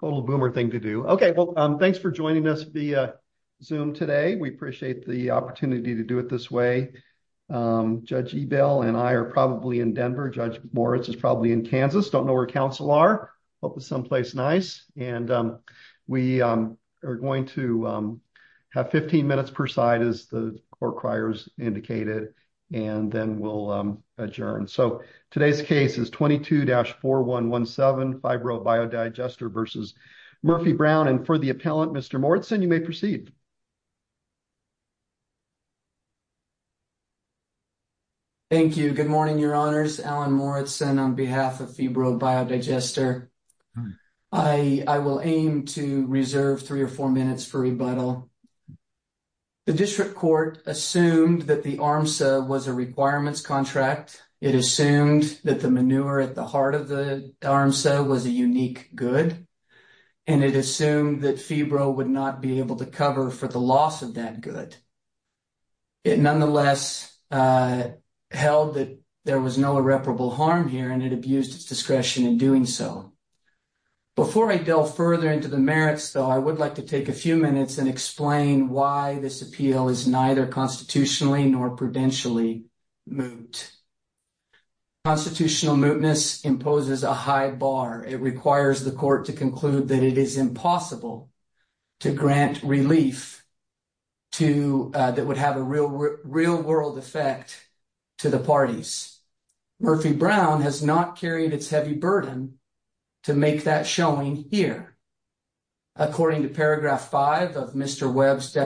Total boomer thing to do. Okay, well, thanks for joining us via Zoom today. We appreciate the opportunity to do it this way. Judge Ebell and I are probably in Denver. Judge Moritz is probably in Kansas. Don't know where counsel are. Hope it's someplace nice. And we are going to have 15 minutes per side as the court criers indicated, and then we'll adjourn. So today's case is 22-4117 Fibro Biodigester v. Murphy-Brown. And for the appellant, Mr. Moritz, you may proceed. Thank you. Good morning, your honors. Alan Moritz on behalf of Fibro Biodigester. I will aim to reserve three or four minutes for rebuttal. The district court assumed that the ARMSA was a requirements contract. It assumed that the unique good, and it assumed that Fibro would not be able to cover for the loss of that good. It nonetheless held that there was no irreparable harm here, and it abused its discretion in doing so. Before I delve further into the merits, though, I would like to take a few minutes and explain why this appeal is neither constitutionally nor prudentially moot. Constitutional mootness imposes a high bar. It requires the court to conclude that it is impossible to grant relief that would have a real-world effect to the parties. Murphy-Brown has not carried its heavy burden to make that showing here. According to paragraph 5 of Mr. Moritz,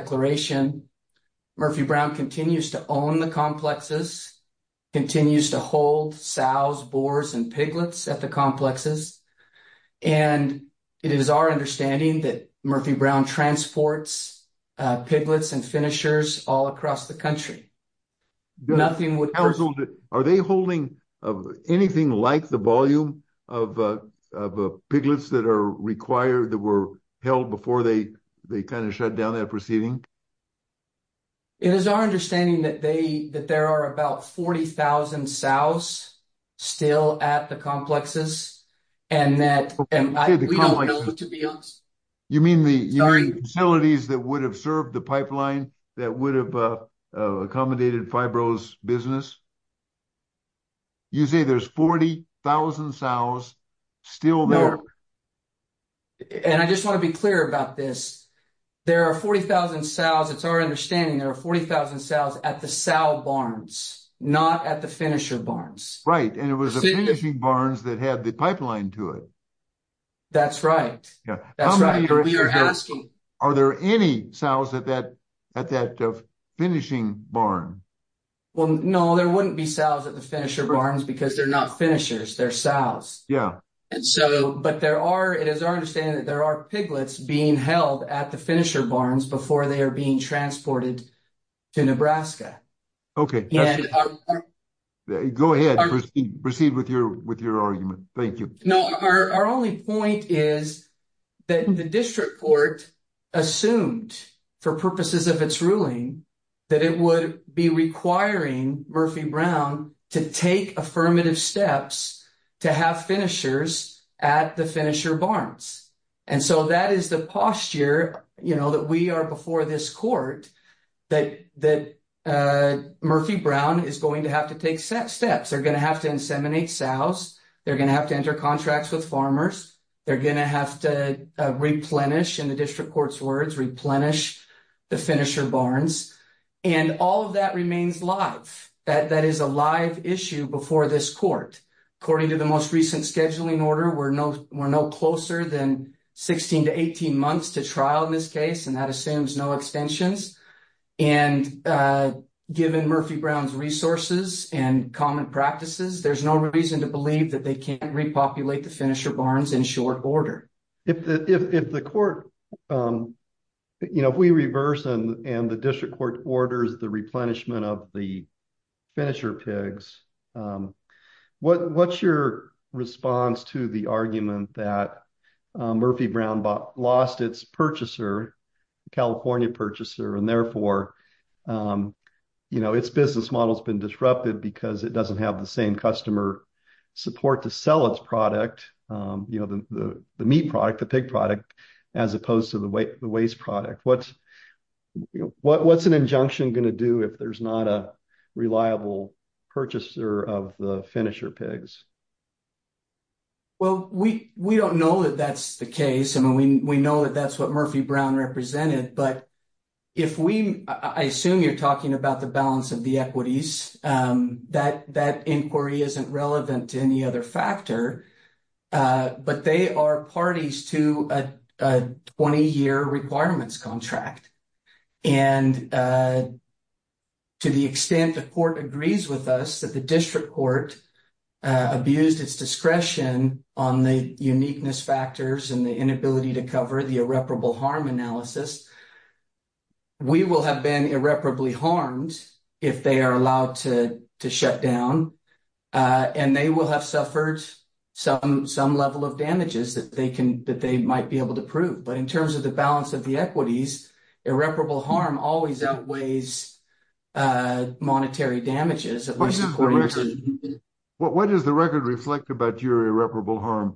it continues to hold sows, boars, and piglets at the complexes, and it is our understanding that Murphy-Brown transports piglets and finishers all across the country. Are they holding anything like the volume of piglets that were held before they shut down proceeding? It is our understanding that there are about 40,000 sows still at the complexes, and that we don't know who to be honest. You mean the facilities that would have served the pipeline that would have accommodated Fibro's business? You say there's 40,000 sows still there? I just want to be clear about this. It's our understanding there are 40,000 sows at the sow barns, not at the finisher barns. Right, and it was the finishing barns that had the pipeline to it. That's right. Are there any sows at that finishing barn? No, there wouldn't be sows at the finisher barns because they're not finishers, they're sows. Yeah. But it is our understanding that there are piglets being held at the finisher barns before they are being transported to Nebraska. Okay, go ahead, proceed with your argument. Thank you. No, our only point is that the district court assumed for purposes of its ruling that it would be requiring Murphy Brown to take affirmative steps to have finishers at the finisher barns. And so that is the posture that we are before this court, that Murphy Brown is going to have to take steps. They're going to have to inseminate sows, they're going to have to enter contracts with farmers, they're going to have to replenish, in the district court's words, replenish the finisher barns. And all of that remains live, that that is a live issue before this court. According to the most recent scheduling order, we're no closer than 16 to 18 months to trial in this case, and that assumes no extensions. And given Murphy Brown's resources and common practices, there's no reason to believe that can't repopulate the finisher barns in short order. If the court, you know, if we reverse and the district court orders the replenishment of the finisher pigs, what's your response to the argument that Murphy Brown lost its purchaser, California purchaser, and therefore, you know, its business model has been disrupted because it doesn't have the same customer support to sell its product, you know, the meat product, the pig product, as opposed to the waste product. What's an injunction going to do if there's not a reliable purchaser of the finisher pigs? Well, we don't know that that's the case. I mean, we know that that's what Murphy Brown represented, but if we, I assume you're talking about the balance of the equities, that inquiry isn't relevant to any other factor, but they are parties to a 20-year requirements contract. And to the extent the court agrees with us that the district court abused its discretion on the irreparable harm analysis, we will have been irreparably harmed if they are allowed to shut down, and they will have suffered some level of damages that they might be able to prove. But in terms of the balance of the equities, irreparable harm always outweighs monetary damages. What does the record reflect about your irreparable harm?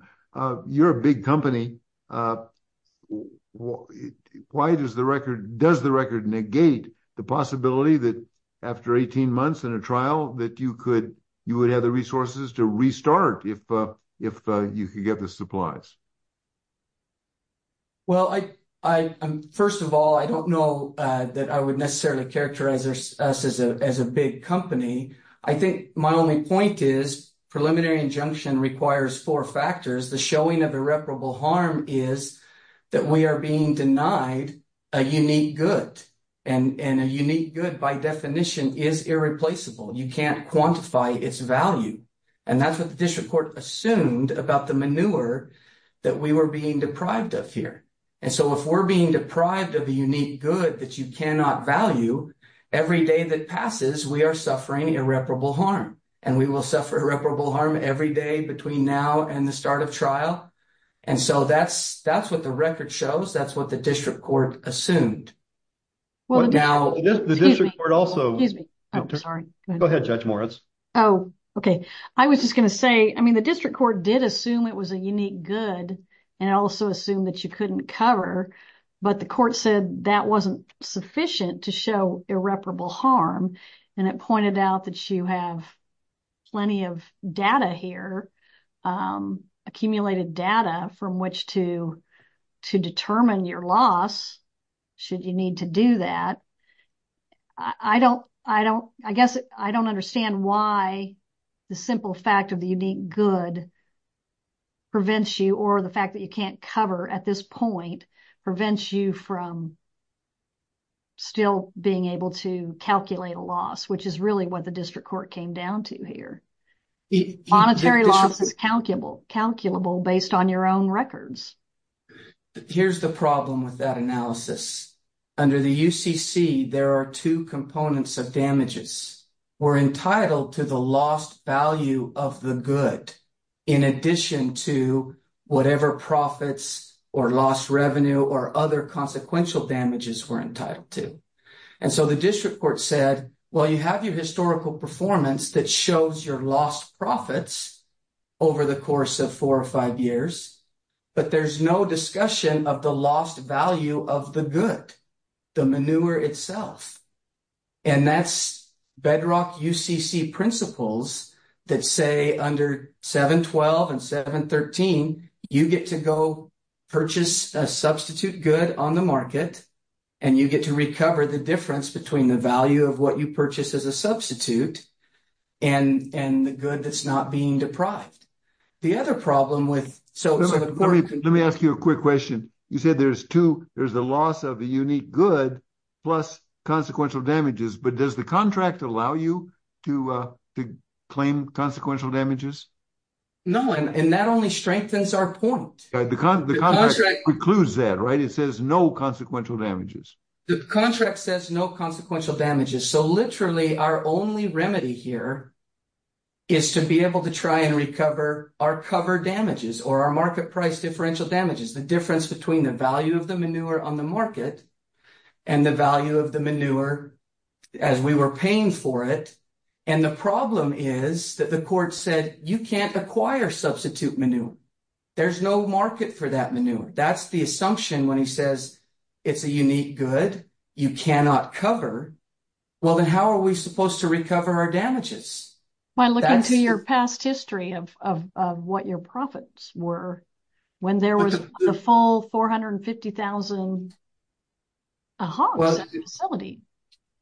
You're a big company. Why does the record, does the record negate the possibility that after 18 months in a trial that you could, you would have the resources to restart if you could get the supplies? Well, first of all, I don't know that I would necessarily characterize us as a big company. I think my only point is preliminary injunction requires four factors. The showing of irreparable harm is that we are being denied a unique good, and a unique good by definition is irreplaceable. You can't quantify its value. And that's what the district court assumed about the manure that we were being deprived of here. And so if we're being deprived of a unique good that you cannot value, every day that passes, we are suffering irreparable harm. And we will suffer irreparable harm every day between now and the start of trial. And so that's, that's what the record shows. That's what the district court assumed. Well, now, the district court also... Excuse me. Oh, sorry. Go ahead, Judge Moritz. Oh, okay. I was just going to say, I mean, the district court did assume it was a unique good, and also assumed that you couldn't cover. But the court said that wasn't sufficient to show irreparable harm. And it pointed out that you have plenty of data here, accumulated data from which to, to determine your loss, should you need to do that. I don't, I don't, I guess I don't understand why the simple fact of the unique good prevents you, or the fact that you can't cover at this point, prevents you from still being able to calculate a loss, which is really what the district court came down to here. Monetary loss is calculable, calculable based on your own records. Here's the problem with that analysis. Under the UCC, there are two components of damages. We're entitled to the lost value of the good, in addition to whatever profits, or lost revenue, or other consequential damages we're entitled to. And so the district court said, well, you have your historical performance that shows your lost profits over the course of four or five years, but there's no discussion of the lost value of the good, the manure itself. And that's UCC principles that say under 712 and 713, you get to go purchase a substitute good on the market, and you get to recover the difference between the value of what you purchase as a substitute, and, and the good that's not being deprived. The other problem with, so, let me, let me ask you a quick question. You said there's two, there's the loss of the unique good, plus consequential damages, but does the contract allow you to claim consequential damages? No, and that only strengthens our point. The contract precludes that, right? It says no consequential damages. The contract says no consequential damages, so literally our only remedy here is to be able to try and recover our cover damages, or our market price differential damages, the difference between the value of the manure on the market and the value of the manure as we were paying for it. And the problem is that the court said you can't acquire substitute manure. There's no market for that manure. That's the assumption when he says it's a unique good you cannot cover. Well, then how are we supposed to recover our damages? By looking to your past history of, of what your $150,000, uh-huh, facility.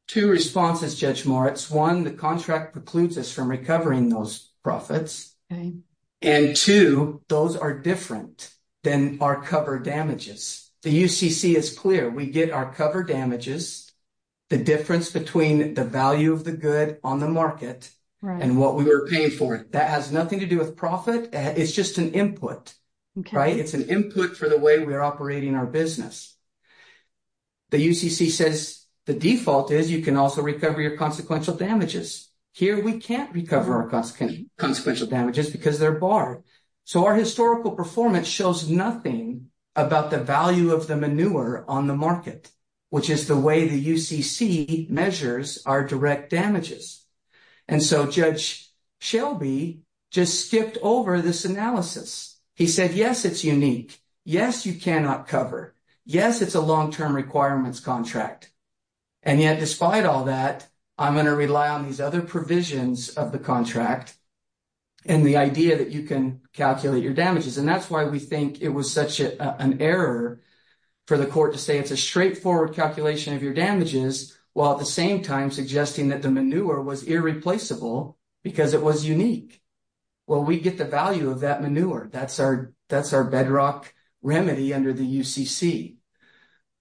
Two responses, Judge Moritz. One, the contract precludes us from recovering those profits. Okay. And two, those are different than our cover damages. The UCC is clear. We get our cover damages, the difference between the value of the good on the market and what we were paying for it. That has nothing to do with profit. It's just an input, right? It's an input for the way we're operating our business. The UCC says the default is you can also recover your consequential damages. Here we can't recover our consequential damages because they're barred. So our historical performance shows nothing about the value of the manure on the market, which is the way the UCC measures our direct damages. And so Judge Shelby just skipped over this analysis. He said, yes, it's unique. Yes, you cannot cover. Yes, it's a long-term requirements contract. And yet, despite all that, I'm going to rely on these other provisions of the contract and the idea that you can calculate your damages. And that's why we think it was such an error for the court to say it's a straightforward calculation of your damages, while at the same time suggesting that the manure was irreplaceable because it was unique. Well, we get the value of that manure. That's our bedrock remedy under the UCC.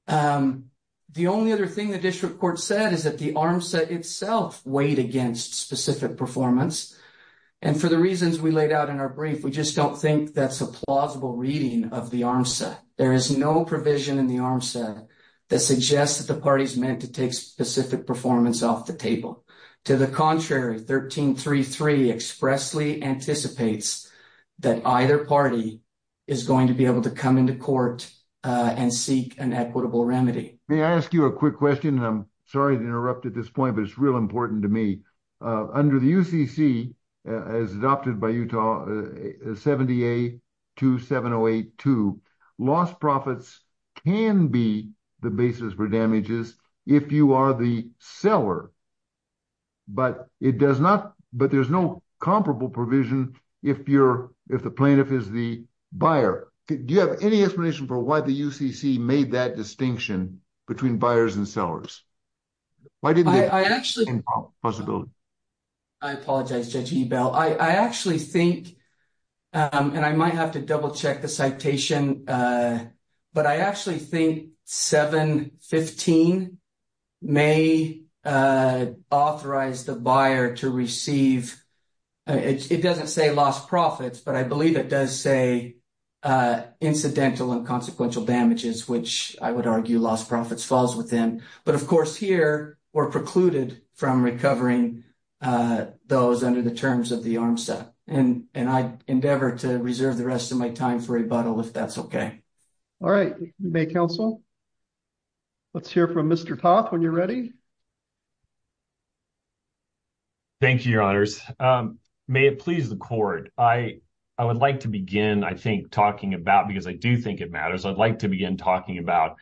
The only other thing the district court said is that the ARMSA itself weighed against specific performance. And for the reasons we laid out in our brief, we just don't think that's a plausible reading of the ARMSA. There is no provision in the To the contrary, 1333 expressly anticipates that either party is going to be able to come into court and seek an equitable remedy. May I ask you a quick question? And I'm sorry to interrupt at this point, but it's real important to me. Under the UCC, as adopted by Utah 70A 27082, lost profits can be the basis for damages if you are the seller. But it does not, but there's no comparable provision if you're, if the plaintiff is the buyer. Do you have any explanation for why the UCC made that distinction between buyers and sellers? Why did they? I apologize, Judge Ebell. I actually think, and I might have to double check the citation, but I actually think 715 may authorize the buyer to receive, it doesn't say lost profits, but I believe it does say incidental and consequential damages, which I would argue lost profits falls within. But of course here, we're precluded from recovering those under the terms of the ARMSA. And I endeavor to reserve the rest of my time for rebuttal if that's okay. All right. May counsel, let's hear from Mr. Toth when you're ready. Thank you, your honors. May it please the court. I would like to begin, I think talking about, because I do think it matters. I'd like to begin talking about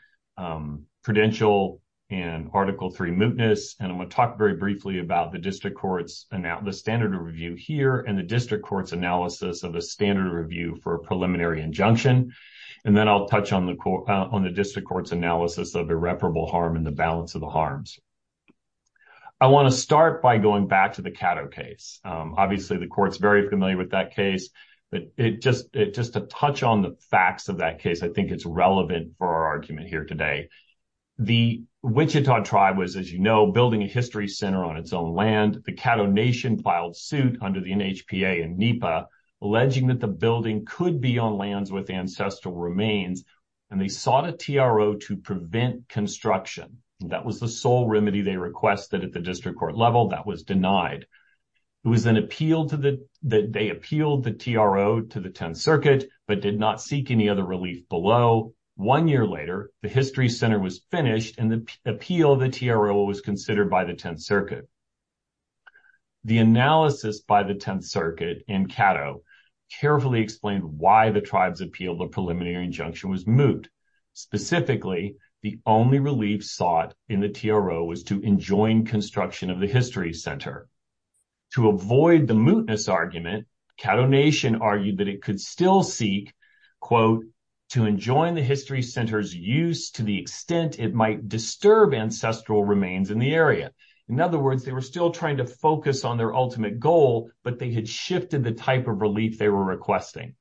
credential and article three mootness. And I'm going to talk very briefly about the district courts, the standard of review here and the district court's analysis of a standard review for a preliminary injunction. And then I'll touch on the court, on the district court's analysis of irreparable harm and the balance of the harms. I want to start by going back to the Cato case. Obviously the court's very familiar with that case, but just to touch on the facts of that case, I think it's relevant for our argument here today. The Wichita tribe was, as you know, building a history center on its own land. The Cato nation filed suit under the NHPA and NEPA, alleging that the building could be on lands with ancestral remains. And they sought a TRO to prevent construction. That was the sole remedy they requested at the district court level that was denied. It was an appeal that they appealed the TRO to the 10th circuit, but did not seek any other relief below. One year later, the history center was finished and the appeal of the TRO was considered by the 10th circuit. The analysis by the 10th circuit in Cato carefully explained why the tribe's appeal of the preliminary injunction was moot. Specifically, the only relief sought in the TRO was to enjoin construction of the history center. To avoid the mootness argument, Cato nation argued that it could still seek, quote, to enjoin the history center's use to the extent it might disturb ancestral remains in the area. In other words, they were still trying to focus on their ultimate goal, but they had shifted the type of relief they were requesting.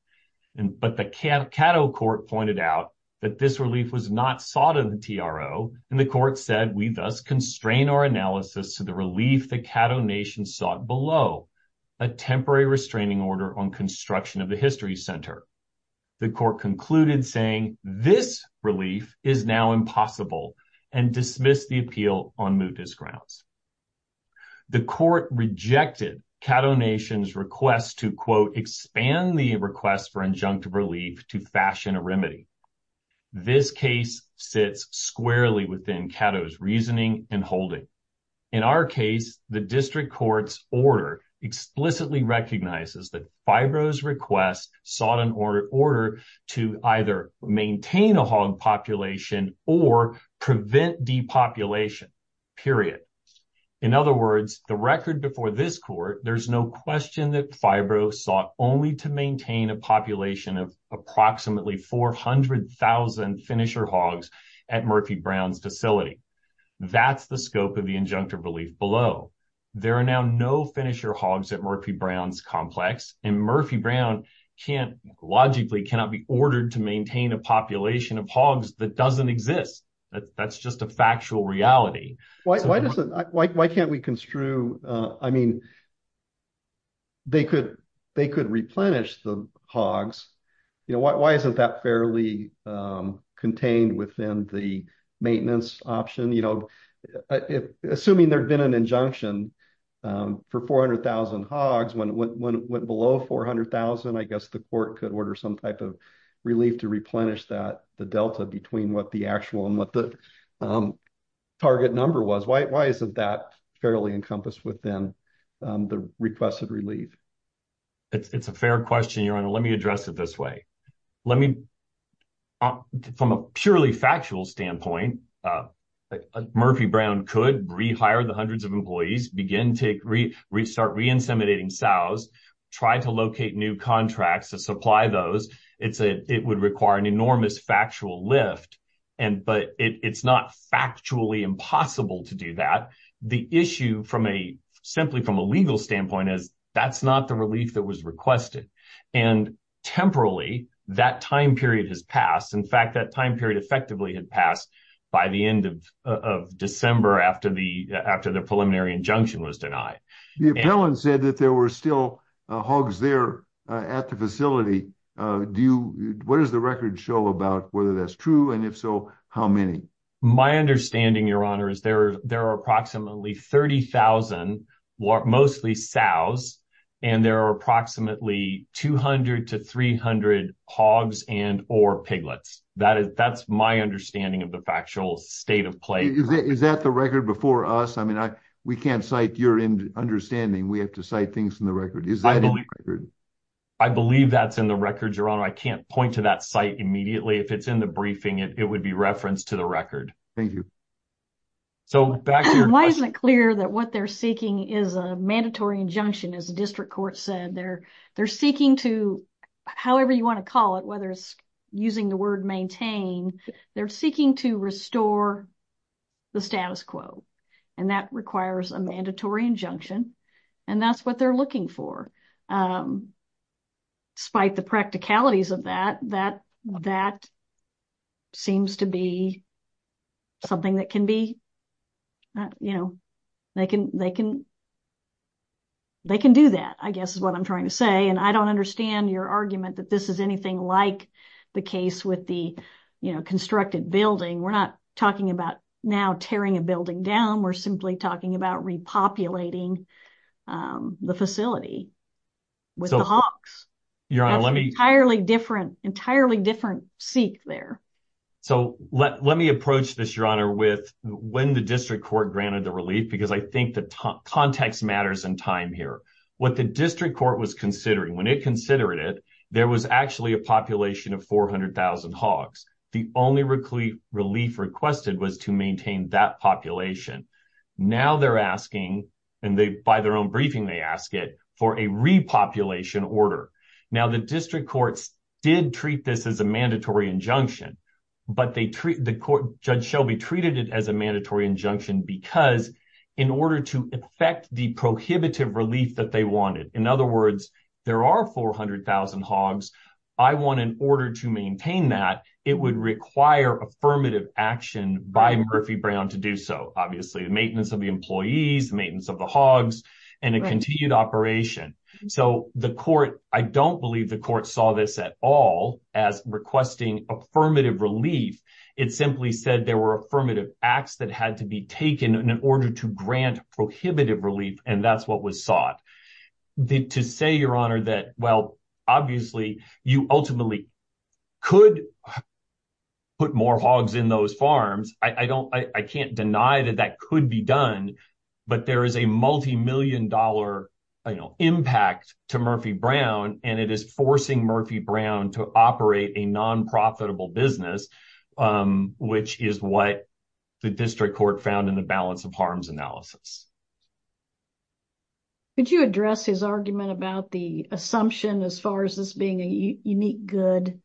But the Cato court pointed out that this relief was not sought in the TRO, and the court said, we thus constrain our analysis to the relief the Cato nation sought below, a temporary restraining order on construction of the history center. The court concluded saying this relief is now impossible and dismissed the appeal on mootness grounds. The court rejected Cato nation's request to, quote, expand the request for injunctive relief to fashion a remedy. This case sits squarely within Cato's reasoning and holding. In our case, the district court's order explicitly recognizes that FIRO's request sought an order to either maintain a hog population or prevent depopulation, period. In other words, the record before this court, there's no question that FIRO sought only to maintain a population of approximately 400,000 finisher hogs at Murphy Brown's facility. That's the scope of the injunctive relief below. There are now no finisher hogs at Murphy Brown's complex, and Murphy Brown logically cannot be ordered to maintain a population of hogs that doesn't exist. That's just a factual reality. Why can't we construe, I mean, they could replenish the hogs. Why isn't that fairly contained within the maintenance option? Assuming there'd been an injunction for 400,000 hogs, when it went below 400,000, I guess the court could order some type of relief to replenish that, the delta between what the actual and what the target number was. Why isn't that fairly encompassed within the requested relief? It's a fair question, Your Honor. Let me address it this way. Let me, from a purely factual standpoint, Murphy Brown could rehire the hundreds of employees, begin to restart re-inseminating sows, try to locate new contracts to supply those. It would require an enormous factual lift, but it's not factually impossible to do that. The issue, simply from a legal standpoint, is that's not the relief that was requested. Temporarily, that time period has passed. In fact, that time period effectively had passed by the end of December after the preliminary injunction was denied. The appellant said that there were still hogs there at the facility. What does the record show about whether that's true, and if so, how many? My understanding, Your Honor, is there are approximately 30,000, mostly sows, and there are approximately 200 to 300 hogs and or piglets. That's my understanding of the factual state of play. Is that the record before us? We can't cite your understanding. We have to cite things in the record. Is that in the record? I believe that's in the record, Your Honor. I can't point to that site immediately. If it's in the briefing, it would be referenced to the record. Thank you. Why isn't it clear that what they're seeking is a mandatory injunction, as the district court said? They're seeking to, however you want to call it, whether it's using the word maintain, they're seeking to restore the status quo, and that requires a mandatory injunction, and that's what they're looking for. Despite the practicalities of that, that seems to be something that can be, you know, they can do that, I guess is what I'm trying to say, and I don't understand your argument that this is anything like the case with the constructed building. We're not talking about now tearing a building down. We're simply talking about repopulating the facility with the hogs. That's an entirely different seek there. So let me approach this, Your Honor, with when the district court granted the relief, because I think the context matters in time here. What the district court was considering, when it considered it, there was actually a population of 400,000 hogs. The only relief requested was to maintain that population. Now they're asking, and by their own briefing, they ask it for a repopulation order. Now the district courts did treat this as a mandatory injunction, but Judge Shelby treated it as a mandatory injunction because in order to effect the prohibitive relief that they wanted, in other words, there are 400,000 hogs. I want, in order to maintain that, it would require affirmative action by Murphy Brown to do so. Obviously the maintenance of the employees, maintenance of the hogs, and a continued operation. So the court, I don't believe the court saw this at all as requesting affirmative relief. It simply said there were affirmative acts that had to be taken in order to grant prohibitive relief, and that's what was sought. To say, Your Honor, that, well, obviously you ultimately could put more hogs in those farms. I can't deny that that could be done, but there is a multi-million dollar, you know, impact to Murphy Brown, and it is forcing Murphy Brown to operate a non-profitable business, which is what the district court found in the balance of harms analysis. Could you address his argument about the assumption as far as this being a unique good,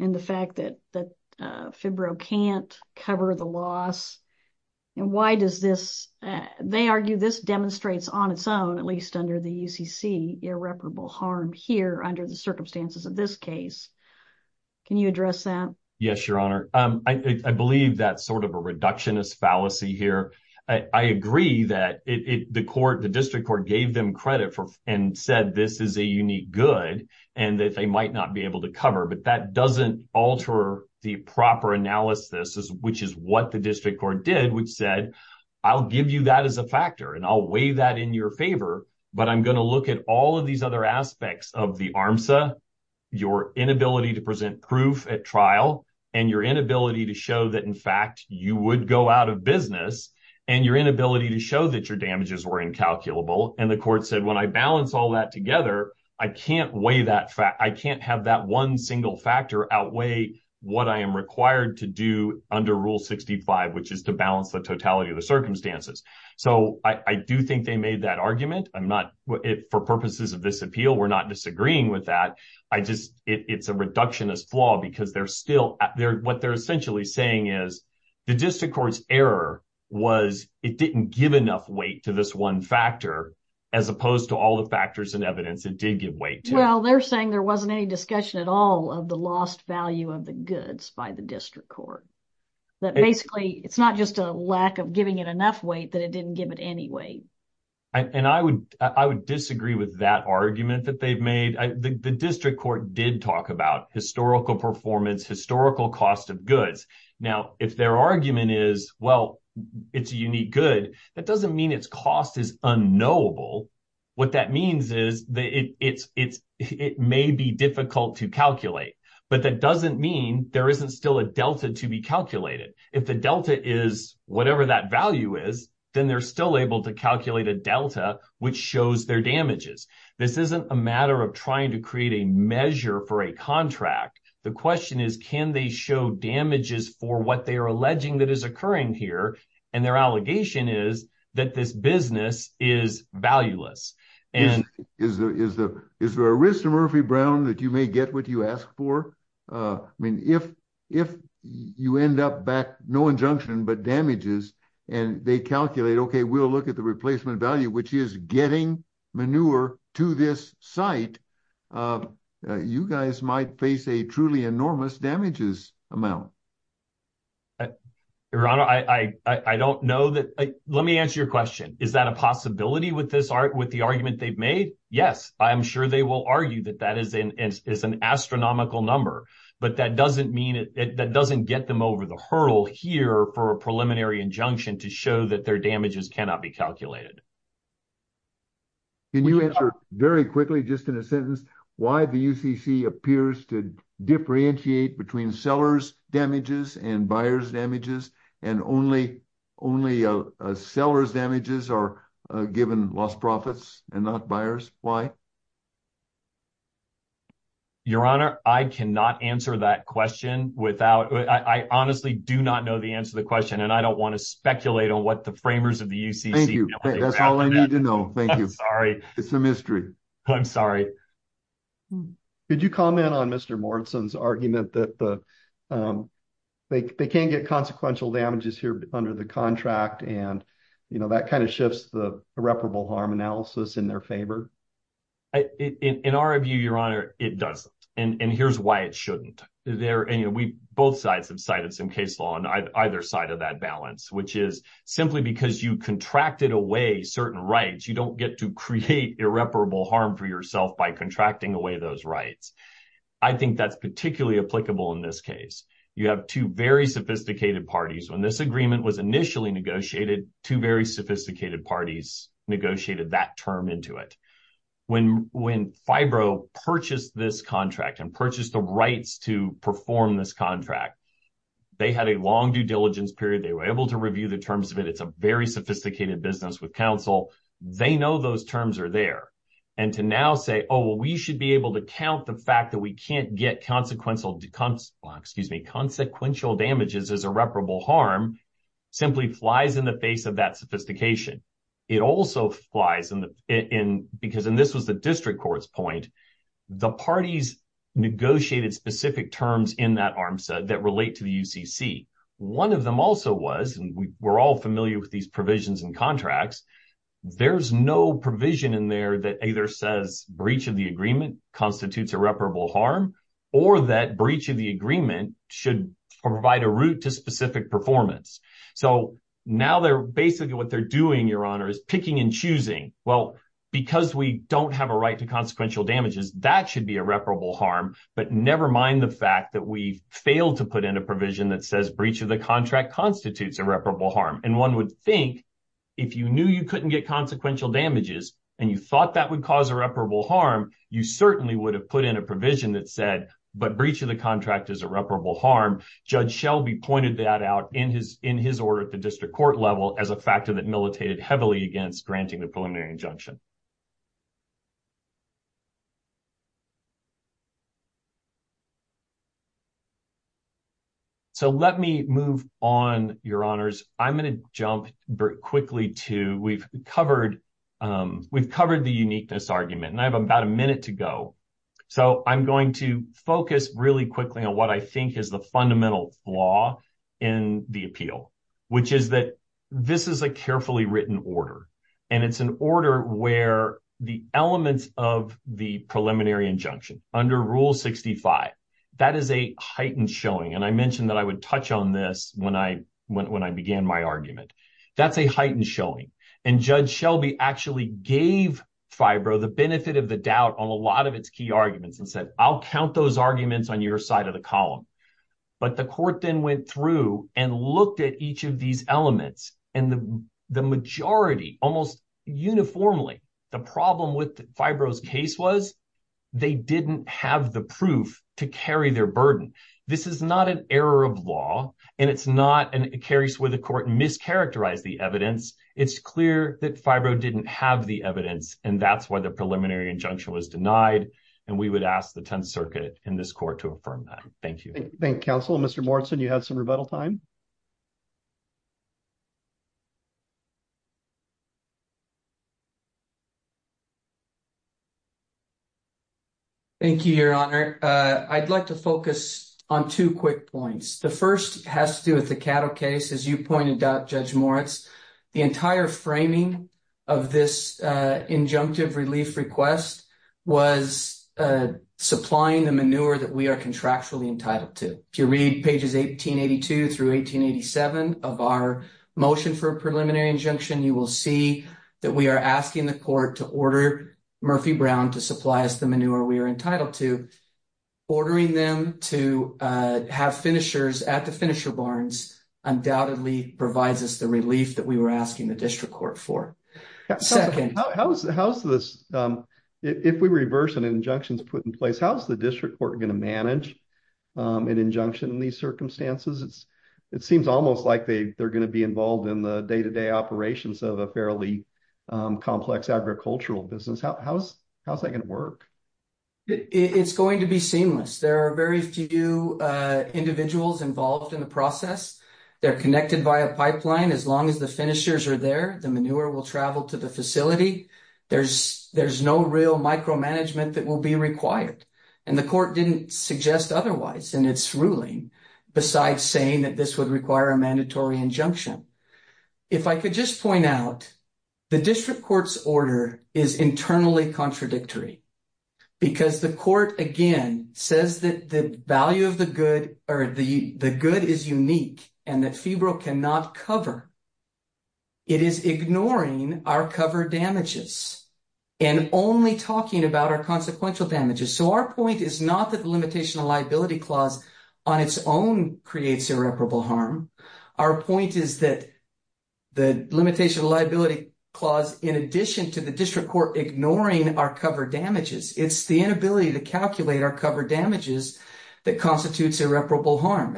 and the fact that FIBRO can't cover the loss, and why does this, they argue this demonstrates on its own, at least under the UCC, irreparable harm here under the circumstances of this case. Can you address that? Yes, Your Honor. I believe that's sort of a reductionist fallacy here. I agree that the court, the district court, gave them credit for and said this is a unique good, and that they might not be able to cover, but that doesn't alter the proper analysis, which is what the district court did, which said, I'll give you that as a factor, and I'll weigh that in your favor, but I'm going to look at all of these other aspects of the ARMSA, your inability to present proof at trial, and your inability to show that, in fact, you would go out of business, and your inability to show that your damages were incalculable, and the court said, when I balance all that together, I can't weigh that, I can't have that one single factor outweigh what I am required to do under Rule 65, which is to balance the totality of the circumstances. So, I do think they made that argument. I'm not, for purposes of this appeal, we're not disagreeing with that. I just, it's a reductionist flaw, because they're still, what they're essentially saying is the district court's error was it didn't give enough weight to this one factor, as opposed to all the factors and evidence it did give weight to. Well, they're saying there wasn't any discussion at all of the lost value of the goods by the district court. That basically, it's not just a lack of giving it enough weight, that it didn't give it any weight. And I would disagree with that argument that they've made. The district court did talk about historical performance, historical cost of goods. Now, if their argument is, well, it's a unique good, that doesn't mean its cost is unknowable. What that means is that it may be difficult to calculate, but that doesn't mean there isn't still a delta to be calculated. If the delta is whatever that value is, then they're still able to calculate a delta, which shows their damages. This isn't a matter of trying to create a measure for a contract. The question is, can they show damages for what they are alleging that is occurring here? And their allegation is that this business is valueless. Is there a risk to Murphy Brown that you may get what you ask for? I mean, if you end up back, no injunction, but damages, and they calculate, okay, we'll look at the replacement value, which is getting manure to this site, you guys might face a truly enormous damages amount. Your Honor, I don't know that. Let me answer your question. Is that a possibility with the argument they've made? Yes, I'm sure they will argue that that is an astronomical number, but that doesn't get them over the hurdle here for a preliminary injunction to show that their Can you answer very quickly, just in a sentence, why the UCC appears to differentiate between sellers' damages and buyers' damages, and only sellers' damages are given lost profits and not buyers? Why? Your Honor, I cannot answer that question without, I honestly do not know the answer to the question, and I don't want to speculate on what the framers of the UCC know. That's all I need to know. Thank you. I'm sorry. It's a mystery. I'm sorry. Could you comment on Mr. Morrison's argument that they can't get consequential damages here under the contract, and, you know, that kind of shifts the irreparable harm analysis in their favor? In our view, Your Honor, it doesn't, and here's why it shouldn't. Both sides have contracted away certain rights. You don't get to create irreparable harm for yourself by contracting away those rights. I think that's particularly applicable in this case. You have two very sophisticated parties. When this agreement was initially negotiated, two very sophisticated parties negotiated that term into it. When FIBRO purchased this contract and purchased the rights to perform this contract, they had a long due diligence period. They were able to review the business with counsel. They know those terms are there, and to now say, oh, well, we should be able to count the fact that we can't get consequential damages as irreparable harm simply flies in the face of that sophistication. It also flies in because, and this was the district court's point, the parties negotiated specific terms in that arms that relate to the UCC. One of them also was, and we're all familiar with these provisions and contracts, there's no provision in there that either says breach of the agreement constitutes irreparable harm or that breach of the agreement should provide a route to specific performance. So now basically what they're doing, Your Honor, is picking and choosing. Well, because we don't have a right to consequential damages, that should be irreparable harm, but never mind the fact that we failed to put in a provision that says breach of the contract constitutes irreparable harm, and one would think if you knew you couldn't get consequential damages and you thought that would cause irreparable harm, you certainly would have put in a provision that said, but breach of the contract is irreparable harm. Judge Shelby pointed that out in his order at the district court level as a factor that militated heavily against granting the preliminary injunction. So let me move on, Your Honors. I'm going to jump quickly to, we've covered the uniqueness argument and I have about a minute to go. So I'm going to focus really quickly on what I think is the fundamental flaw in the appeal, which is that this is a carefully written order, and it's an heightened showing, and I mentioned that I would touch on this when I began my argument. That's a heightened showing, and Judge Shelby actually gave FIBRO the benefit of the doubt on a lot of its key arguments and said, I'll count those arguments on your side of the column. But the court then went through and looked at each of these elements, and the majority, almost uniformly, the problem with FIBRO's case was they didn't have the proof to carry their burden. This is not an error of law, and it carries where the court mischaracterized the evidence. It's clear that FIBRO didn't have the evidence, and that's why the preliminary injunction was denied, and we would ask the Tenth Circuit in this court to affirm that. Thank you. Thank you, counsel. Mr. Morton, you have some rebuttal time. Thank you, Your Honor. I'd like to focus on two quick points. The first has to do with the cattle case. As you pointed out, Judge Moritz, the entire framing of this injunctive relief request was supplying the manure that we are contractually entitled to. If you read pages 1882 through 1887 of our motion for a preliminary injunction, you will see that we are asking the court to order Murphy Brown to supply us the manure we are entitled to. Ordering them to have finishers at the finisher barns undoubtedly provides us the relief that we were asking the district court for. Second. If we reverse an injunction put in place, how is the district court going to manage an injunction in these circumstances? It seems almost like they're going to be involved in the day-to-day operations of a fairly complex agricultural business. How is that going to work? It's going to be seamless. There are very few individuals involved in the process. They're connected by a pipeline. As long as the finishers are there, the manure will travel to the facility. There's no real micromanagement that will be required. The court didn't suggest otherwise in its ruling besides saying that this would require a mandatory injunction. If I could just point out, the district court's order is internally contradictory because the court, again, says that the value of the good is unique and that febrile cannot cover. It is ignoring our cover damages and only talking about our consequential damages. Our point is not that the limitation of liability clause on its own creates irreparable harm. Our point is that the limitation of liability clause, in addition to the district court ignoring our cover damages, it's the inability to calculate our cover damages that constitutes irreparable harm.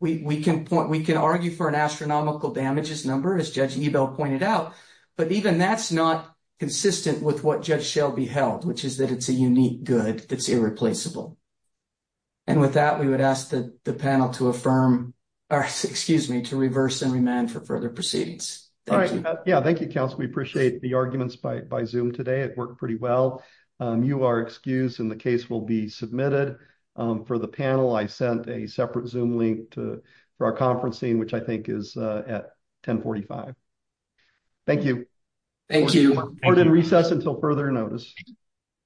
We can argue for an astronomical damages number, as Judge Ebel pointed out, but even that's not consistent with what Judge Shelby held, which is that it's a unique good that's irreplaceable. And with that, we would ask the panel to reverse and remand for further proceedings. All right. Yeah, thank you, counsel. We appreciate the arguments by Zoom today. It worked pretty well. You are excused and the case will be submitted. For the panel, I sent a separate Zoom link for our conferencing, which I think is at 1045. Thank you. Thank you. Court is in session.